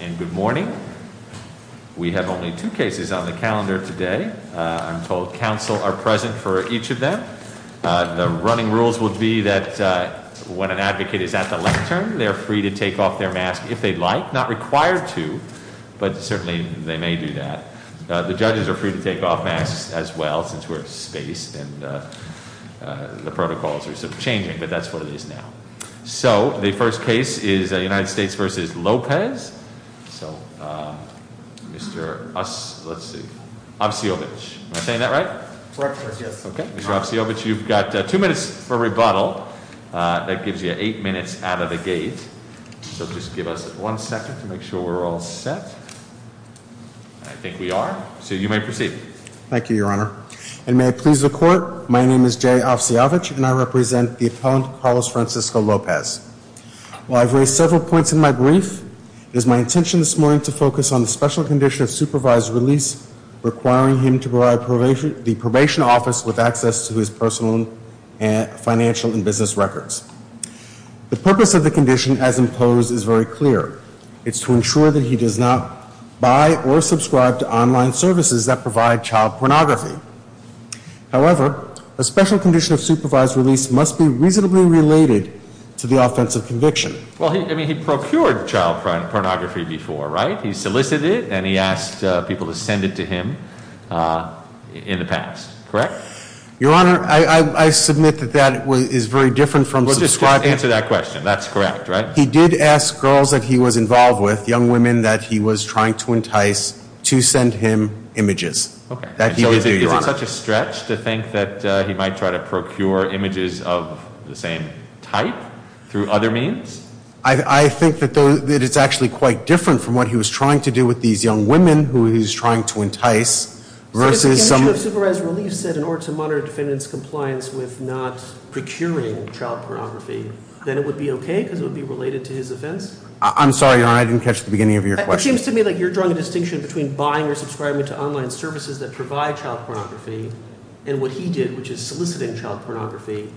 And good morning. We have only two cases on the calendar today. I'm told council are present for each of them. The running rules would be that when an advocate is at the lectern, they're free to take off their mask if they'd like. Not required to, but certainly they may do that. The judges are free to take off masks as well, since we're at space. And the protocols are sort of changing, but that's what it is now. So, the first case is United States v. Lopez. So, Mr. Ossovich. Am I saying that right? Correct, yes. Okay. Mr. Ossovich, you've got two minutes for rebuttal. That gives you eight minutes out of the gate. So just give us one second to make sure we're all set. I think we are. So you may proceed. Thank you, Your Honor. And may it please the Court, my name is Jay Ossovich, and I represent the appellant, Carlos Francisco Lopez. While I've raised several points in my brief, it is my intention this morning to focus on the special condition of supervised release, requiring him to provide the probation office with access to his personal, financial, and business records. The purpose of the condition as imposed is very clear. It's to ensure that he does not buy or subscribe to online services that provide child pornography. However, a special condition of supervised release must be reasonably related to the offensive conviction. Well, I mean, he procured child pornography before, right? He solicited and he asked people to send it to him in the past, correct? Your Honor, I submit that that is very different from subscribing. Well, just answer that question. That's correct, right? He did ask girls that he was involved with, young women that he was trying to entice, to send him images. Okay. That he would do, Your Honor. So is it such a stretch to think that he might try to procure images of the same type through other means? I think that it's actually quite different from what he was trying to do with these young women who he was trying to entice versus some— So if the condition of supervised release said in order to monitor defendant's compliance with not procuring child pornography, then it would be okay because it would be related to his offense? I'm sorry, Your Honor. I didn't catch the beginning of your question. It seems to me like you're drawing a distinction between buying or subscribing to online services that provide child pornography and what he did, which is soliciting child pornography.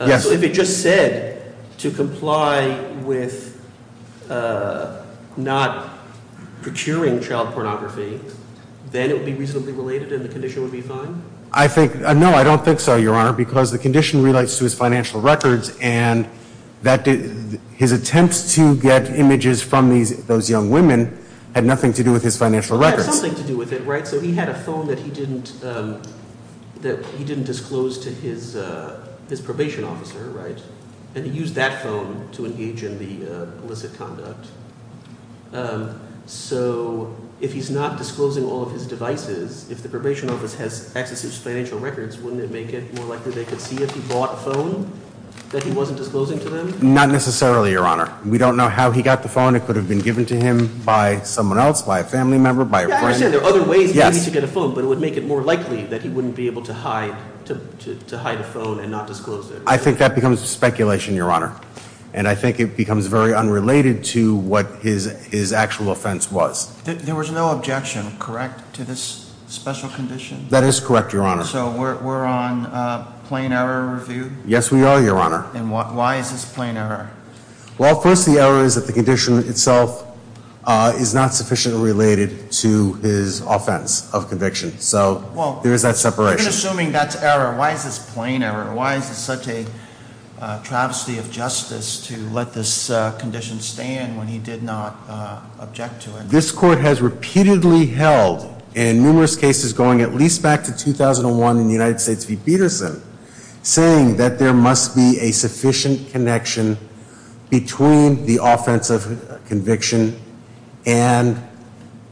Yes. So if it just said to comply with not procuring child pornography, then it would be reasonably related and the condition would be fine? No, I don't think so, Your Honor, because the condition relates to his financial records, and his attempts to get images from those young women had nothing to do with his financial records. It had something to do with it, right? So he had a phone that he didn't disclose to his probation officer, right? And he used that phone to engage in the illicit conduct. So if he's not disclosing all of his devices, if the probation office has access to his financial records, wouldn't it make it more likely they could see if he bought a phone that he wasn't disclosing to them? Not necessarily, Your Honor. We don't know how he got the phone. It could have been given to him by someone else, by a family member, by a friend. Yeah, I understand. There are other ways for him to get a phone, but it would make it more likely that he wouldn't be able to hide a phone and not disclose it. I think that becomes speculation, Your Honor. And I think it becomes very unrelated to what his actual offense was. There was no objection, correct, to this special condition? That is correct, Your Honor. So we're on plain error review? Yes, we are, Your Honor. And why is this plain error? Well, first, the error is that the condition itself is not sufficiently related to his offense of conviction. So there is that separation. We're assuming that's error. Why is this plain error? Why is it such a travesty of justice to let this condition stand when he did not object to it? This court has repeatedly held, in numerous cases going at least back to 2001 in the United States v. Peterson, saying that there must be a sufficient connection between the offense of conviction and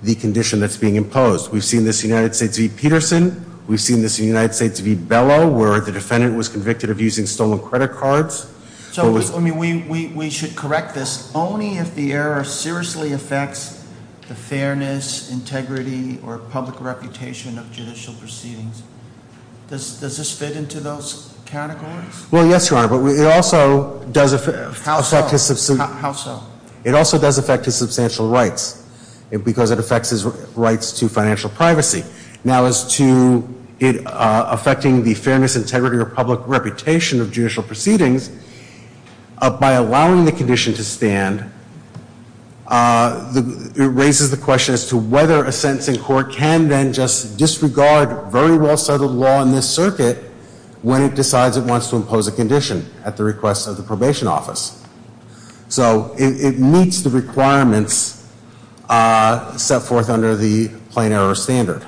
the condition that's being imposed. We've seen this in the United States v. Peterson. We've seen this in the United States v. Bellow, where the defendant was convicted of using stolen credit cards. So we should correct this only if the error seriously affects the fairness, integrity, or public reputation of judicial proceedings. Does this fit into those categories? Well, yes, Your Honor. But it also does affect his substantial rights. Because it affects his rights to financial privacy. Now, as to it affecting the fairness, integrity, or public reputation of judicial proceedings, by allowing the condition to stand, it raises the question as to whether a sentencing court can then just disregard very well-settled law in this circuit when it decides it wants to impose a condition at the request of the probation office. So it meets the requirements set forth under the plain error standard.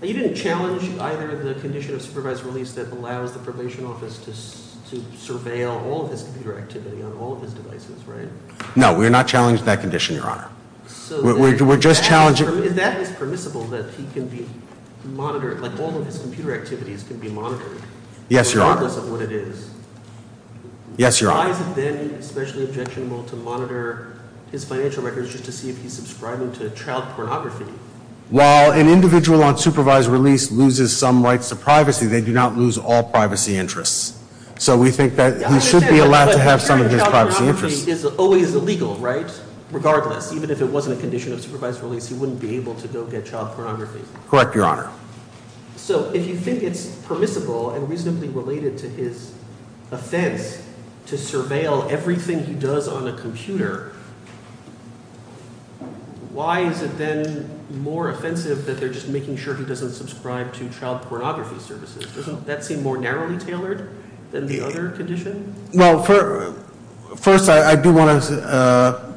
You didn't challenge either the condition of supervised release that allows the probation office to surveil all of his computer activity on all of his devices, right? No, we're not challenging that condition, Your Honor. We're just challenging... Is that permissible, that he can be monitored, like all of his computer activities can be monitored? Yes, Your Honor. Regardless of what it is? Yes, Your Honor. Why is it then especially objectionable to monitor his financial records just to see if he's subscribing to child pornography? Well, an individual on supervised release loses some rights to privacy. They do not lose all privacy interests. So we think that he should be allowed to have some of his privacy interests. Child pornography is always illegal, right? Regardless, even if it wasn't a condition of supervised release, he wouldn't be able to go get child pornography. Correct, Your Honor. So if you think it's permissible and reasonably related to his offense to surveil everything he does on a computer, why is it then more offensive that they're just making sure he doesn't subscribe to child pornography services? Doesn't that seem more narrowly tailored than the other condition? Well, first, I do want to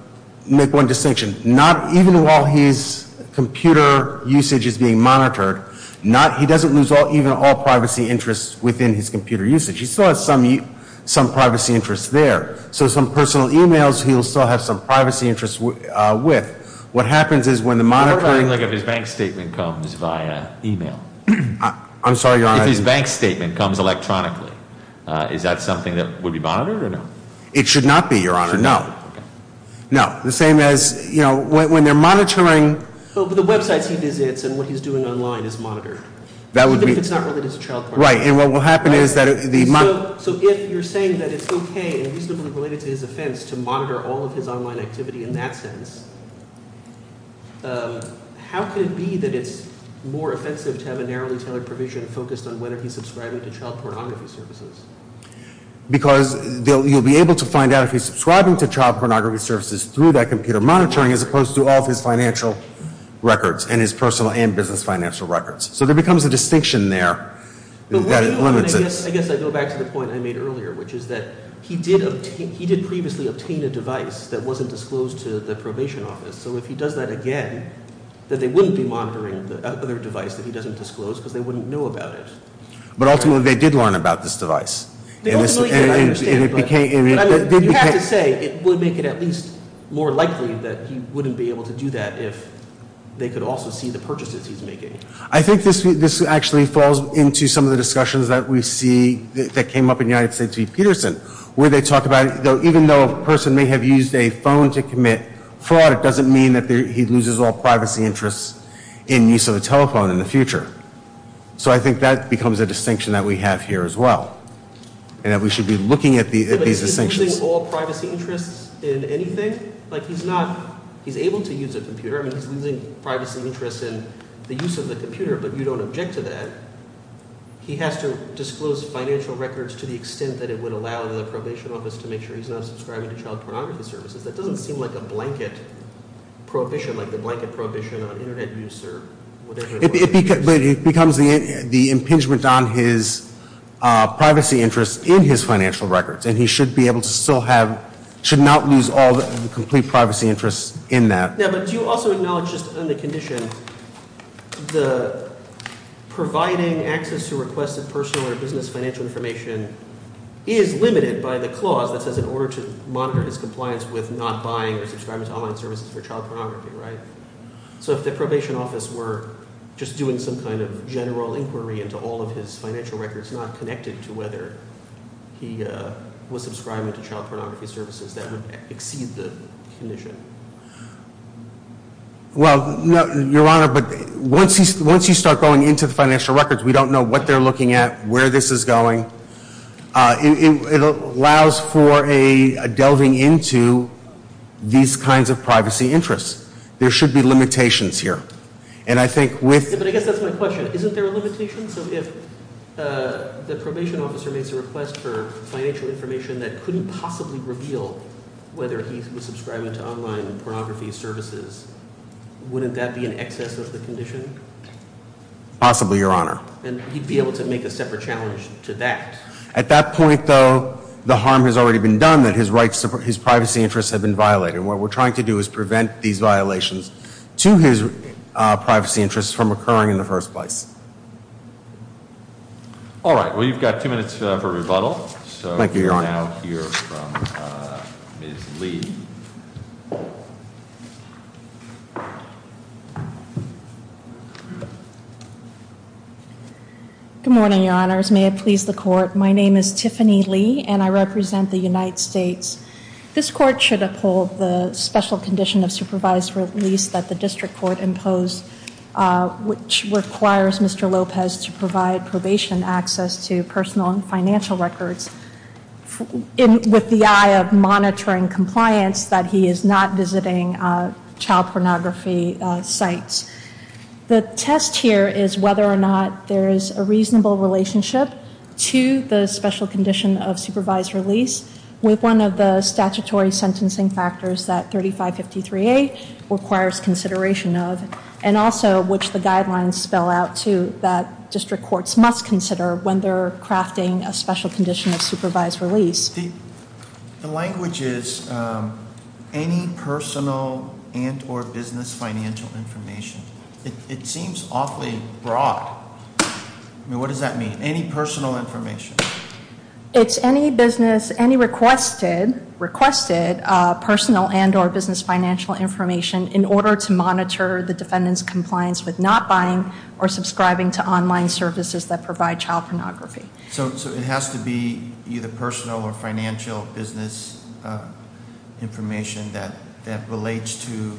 make one distinction. Not even while his computer usage is being monitored, he doesn't lose even all privacy interests within his computer usage. He still has some privacy interests there. So some personal e-mails, he'll still have some privacy interests with. What happens is when the monitoring... What about if his bank statement comes via e-mail? I'm sorry, Your Honor. If his bank statement comes electronically. Is that something that would be monitored or no? It should not be, Your Honor. No. No. The same as, you know, when they're monitoring... But the websites he visits and what he's doing online is monitored. That would be... Even if it's not related to child pornography. Right. And what will happen is that the... So if you're saying that it's okay and reasonably related to his offense to monitor all of his online activity in that sense, how could it be that it's more offensive to have a narrowly tailored provision focused on whether he's subscribing to child pornography services? Because you'll be able to find out if he's subscribing to child pornography services through that computer monitoring as opposed to all of his financial records and his personal and business financial records. So there becomes a distinction there that limits it. I guess I go back to the point I made earlier, which is that he did previously obtain a device that wasn't disclosed to the probation office. So if he does that again, that they wouldn't be monitoring the other device that he doesn't disclose because they wouldn't know about it. But ultimately they did learn about this device. They ultimately did, I understand. And it became... You have to say it would make it at least more likely that he wouldn't be able to do that if they could also see the purchases he's making. I think this actually falls into some of the discussions that we see that came up in United States v. Peterson where they talk about even though a person may have used a phone to commit fraud, it doesn't mean that he loses all privacy interests in use of a telephone in the future. So I think that becomes a distinction that we have here as well and that we should be looking at these distinctions. But he's losing all privacy interests in anything? Like he's not – he's able to use a computer. I mean he's losing privacy interests in the use of the computer, but you don't object to that. He has to disclose financial records to the extent that it would allow the probation office to make sure he's not subscribing to child pornography services. That doesn't seem like a blanket prohibition, like the blanket prohibition on Internet use or whatever it was. It becomes the impingement on his privacy interests in his financial records, and he should be able to still have – should not lose all the complete privacy interests in that. Yeah, but do you also acknowledge just on the condition the providing access to requested personal or business financial information is limited by the clause that says in order to monitor his compliance with not buying or subscribing to online services for child pornography, right? So if the probation office were just doing some kind of general inquiry into all of his financial records not connected to whether he was subscribing to child pornography services, that would exceed the condition. Well, Your Honor, but once you start going into the financial records, we don't know what they're looking at, where this is going. It allows for a delving into these kinds of privacy interests. There should be limitations here, and I think with – Yeah, but I guess that's my question. Isn't there a limitation? So if the probation officer makes a request for financial information that couldn't possibly reveal whether he was subscribing to online pornography services, wouldn't that be in excess of the condition? Possibly, Your Honor. And he'd be able to make a separate challenge to that. At that point, though, the harm has already been done, that his privacy interests have been violated. What we're trying to do is prevent these violations to his privacy interests from occurring in the first place. All right. Well, you've got two minutes for rebuttal. Thank you, Your Honor. So we'll now hear from Ms. Lee. Good morning, Your Honors. May it please the Court. My name is Tiffany Lee, and I represent the United States. This Court should uphold the special condition of supervised release that the District Court imposed, which requires Mr. Lopez to provide probation access to personal and financial records with the eye of monitoring compliance. Hence, that he is not visiting child pornography sites. The test here is whether or not there is a reasonable relationship to the special condition of supervised release with one of the statutory sentencing factors that 3553A requires consideration of. And also, which the guidelines spell out, too, that district courts must consider when they're crafting a special condition of supervised release. The language is any personal and or business financial information. It seems awfully broad. I mean, what does that mean? Any personal information? It's any business, any requested personal and or business financial information in order to monitor the defendant's compliance with not buying or subscribing to online services that provide child pornography. So it has to be either personal or financial business information that relates to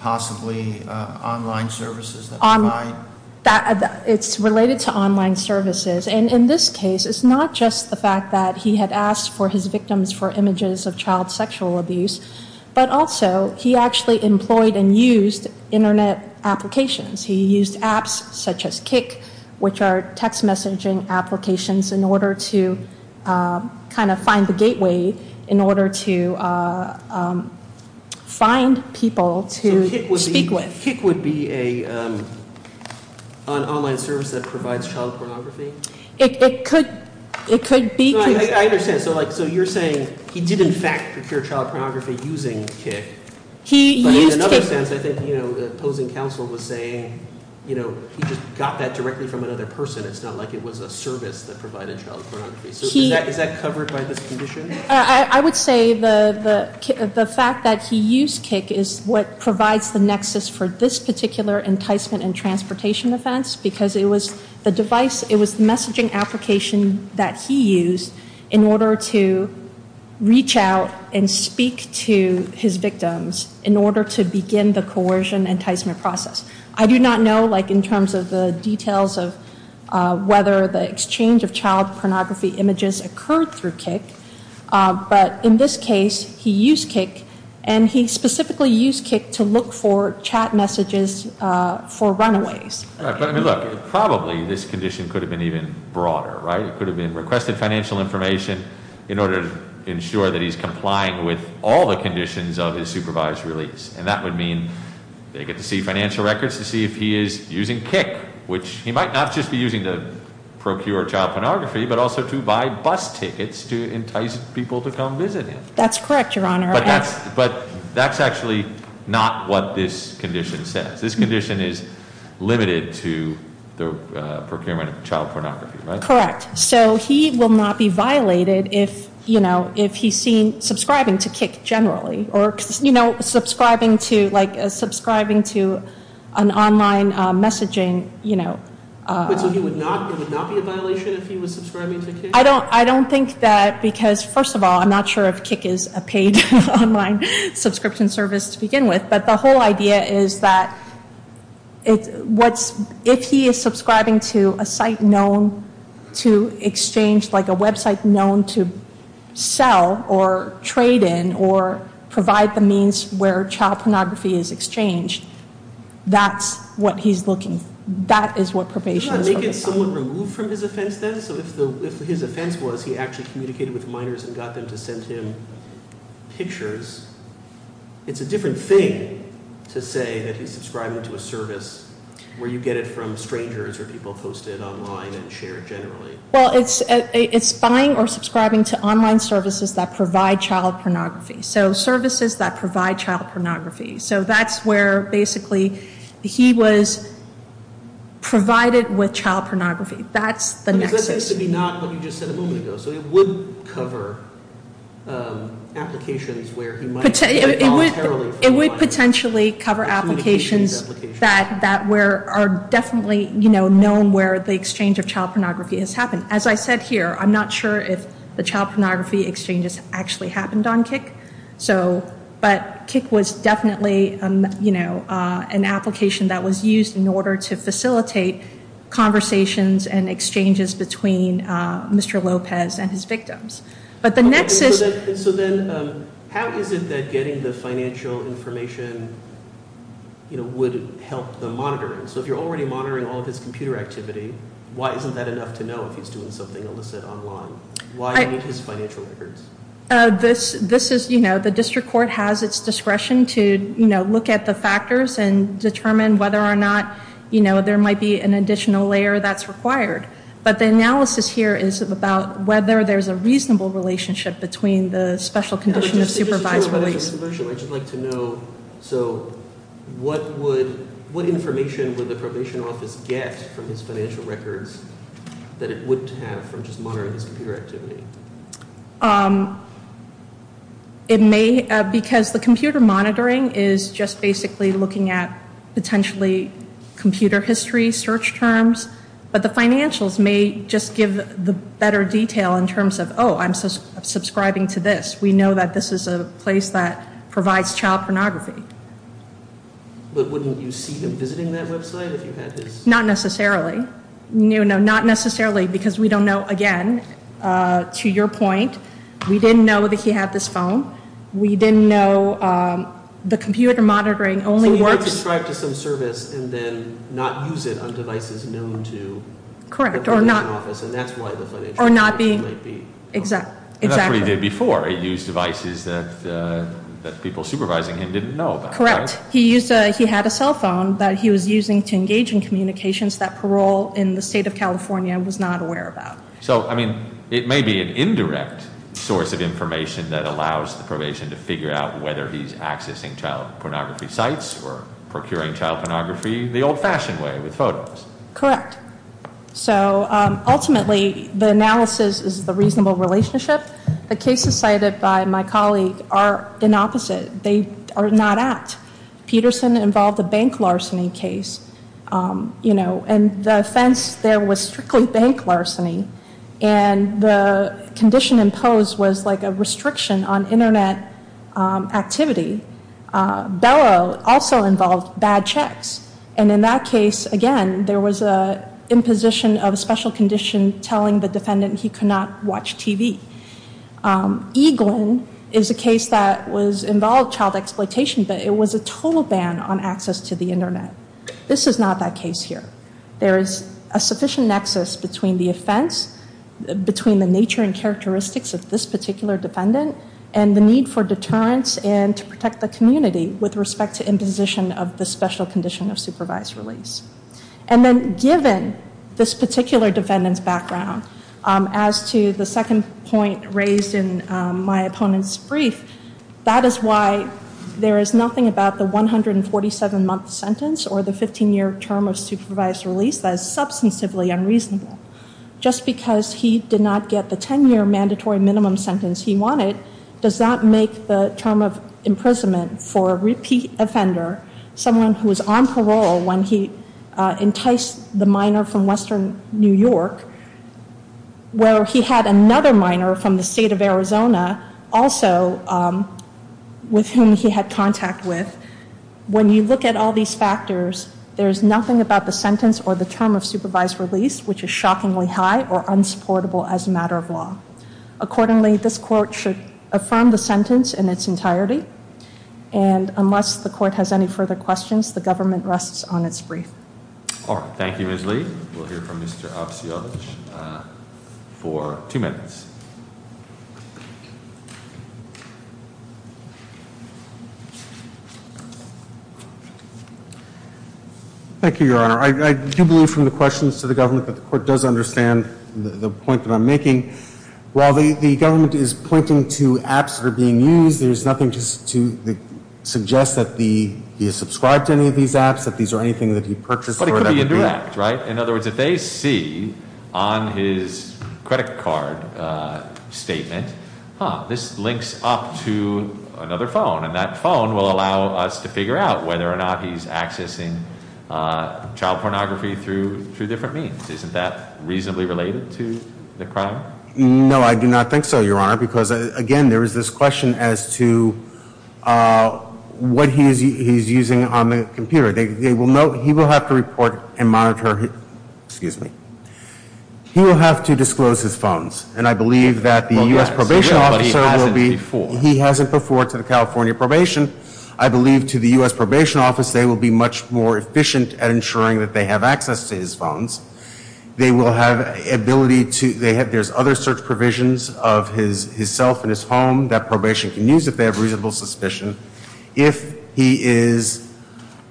possibly online services that provide? It's related to online services. And in this case, it's not just the fact that he had asked for his victims for images of child sexual abuse, but also he actually employed and used Internet applications. He used apps such as Kik, which are text messaging applications in order to kind of find the gateway, in order to find people to speak with. So Kik would be an online service that provides child pornography? It could be. I understand. So you're saying he did, in fact, procure child pornography using Kik. He used Kik. In another sense, I think the opposing counsel was saying he just got that directly from another person. It's not like it was a service that provided child pornography. So is that covered by this condition? I would say the fact that he used Kik is what provides the nexus for this particular enticement and transportation offense, because it was the device, it was the messaging application that he used in order to reach out and speak to his victims in order to begin the coercion enticement process. I do not know, like, in terms of the details of whether the exchange of child pornography images occurred through Kik, but in this case, he used Kik, and he specifically used Kik to look for chat messages for runaways. Look, probably this condition could have been even broader, right? It could have been requested financial information in order to ensure that he's complying with all the conditions of his supervised release. And that would mean they get to see financial records to see if he is using Kik, which he might not just be using to procure child pornography, but also to buy bus tickets to entice people to come visit him. That's correct, Your Honor. But that's actually not what this condition says. This condition is limited to the procurement of child pornography, right? That's correct. So he will not be violated if, you know, if he's seen subscribing to Kik generally or, you know, subscribing to an online messaging, you know. So it would not be a violation if he was subscribing to Kik? I don't think that because, first of all, I'm not sure if Kik is a paid online subscription service to begin with, but the whole idea is that if he is subscribing to a site known to exchange, like a website known to sell or trade in or provide the means where child pornography is exchanged, that's what he's looking for. That is what probation is looking for. Doesn't that make it somewhat removed from his offense then? So if his offense was he actually communicated with minors and got them to send him pictures, it's a different thing to say that he's subscribing to a service where you get it from strangers or people posted online and shared generally. Well, it's buying or subscribing to online services that provide child pornography. So services that provide child pornography. So that's where basically he was provided with child pornography. That's the nexus. So it would cover applications where he might voluntarily provide. It would potentially cover applications that are definitely known where the exchange of child pornography has happened. As I said here, I'm not sure if the child pornography exchanges actually happened on Kik, but Kik was definitely an application that was used in order to facilitate conversations and exchanges between Mr. Lopez and his victims. So then how is it that getting the financial information would help the monitoring? So if you're already monitoring all of his computer activity, why isn't that enough to know if he's doing something illicit online? Why do you need his financial records? This is, the district court has its discretion to look at the factors and determine whether or not there might be an additional layer that's required. But the analysis here is about whether there's a reasonable relationship between the special condition of supervisory. I'd just like to know, so what information would the probation office get from his financial records that it wouldn't have from just monitoring his computer activity? It may, because the computer monitoring is just basically looking at potentially computer history search terms. But the financials may just give the better detail in terms of, I'm subscribing to this. We know that this is a place that provides child pornography. But wouldn't you see them visiting that website if you had his- Not necessarily. No, not necessarily, because we don't know, again, to your point, we didn't know that he had this phone. We didn't know the computer monitoring only works- So he might subscribe to some service and then not use it on devices known to- Correct, or not- The probation office, and that's why the financial information might be- Exactly. And that's what he did before. He used devices that people supervising him didn't know about. Correct. He had a cell phone that he was using to engage in communications that parole in the state of California was not aware about. So, I mean, it may be an indirect source of information that allows the probation to figure out whether he's accessing child pornography sites or procuring child pornography the old-fashioned way with photos. Correct. So, ultimately, the analysis is the reasonable relationship. The cases cited by my colleague are an opposite. They are not ACT. Peterson involved a bank larceny case, and the offense there was strictly bank larceny. And the condition imposed was like a restriction on Internet activity. Bellow also involved bad checks. And in that case, again, there was an imposition of a special condition telling the defendant he could not watch TV. Eaglin is a case that involved child exploitation, but it was a total ban on access to the Internet. This is not that case here. There is a sufficient nexus between the offense, between the nature and characteristics of this particular defendant, and the need for deterrence and to protect the community with respect to imposition of the special condition of supervised release. And then given this particular defendant's background, as to the second point raised in my opponent's brief, that is why there is nothing about the 147-month sentence or the 15-year term of supervised release that is substantively unreasonable. Just because he did not get the 10-year mandatory minimum sentence he wanted, does not make the term of imprisonment for a repeat offender, someone who was on parole when he enticed the minor from Western New York, where he had another minor from the state of Arizona, also with whom he had contact with. When you look at all these factors, there is nothing about the sentence or the term of supervised release, which is shockingly high or unsupportable as a matter of law. Accordingly, this court should affirm the sentence in its entirety. And unless the court has any further questions, the government rests on its brief. All right. Thank you, Ms. Lee. We'll hear from Mr. Avciovic for two minutes. Thank you, Your Honor. I do believe from the questions to the government that the court does understand the point that I'm making. While the government is pointing to apps that are being used, there's nothing to suggest that he is subscribed to any of these apps, that these are anything that he purchased. But it could be indirect, right? In other words, if they see on his credit card statement, huh, this links up to another phone and that phone will allow us to figure out whether or not he's accessing child pornography through different means. Isn't that reasonably related to the crime? No, I do not think so, Your Honor, because, again, there is this question as to what he's using on the computer. They will note, he will have to report and monitor, excuse me, he will have to disclose his phones. And I believe that the U.S. probation officer will be, he hasn't before to the California probation. I believe to the U.S. probation office, they will be much more efficient at ensuring that they have access to his phones. They will have ability to, they have, there's other search provisions of his self and his home that probation can use if they have reasonable suspicion. If he is,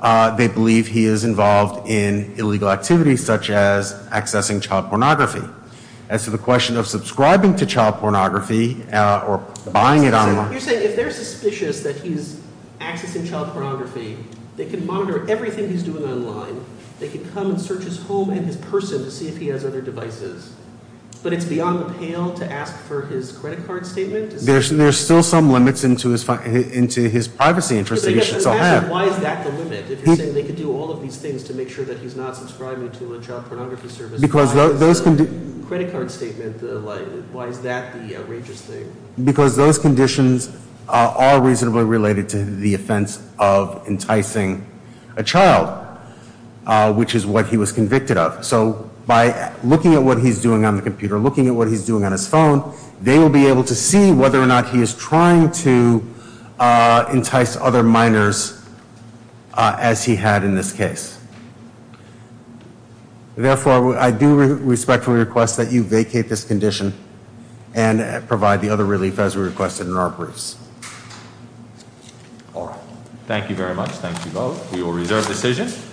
they believe he is involved in illegal activities such as accessing child pornography. As to the question of subscribing to child pornography or buying it online. You're saying if they're suspicious that he's accessing child pornography, they can monitor everything he's doing online. They can come and search his home and his person to see if he has other devices. But it's beyond the pale to ask for his credit card statement. There's still some limits into his privacy interest that he should still have. But you're asking why is that the limit? If you're saying they can do all of these things to make sure that he's not subscribing to a child pornography service. Because those conditions. Credit card statement, why is that the outrageous thing? Because those conditions are reasonably related to the offense of enticing a child, which is what he was convicted of. So by looking at what he's doing on the computer, looking at what he's doing on his phone, they will be able to see whether or not he is trying to entice other minors as he had in this case. Therefore, I do respectfully request that you vacate this condition and provide the other relief as requested in our briefs. All right. Thank you very much. Thank you both. We will reserve decision.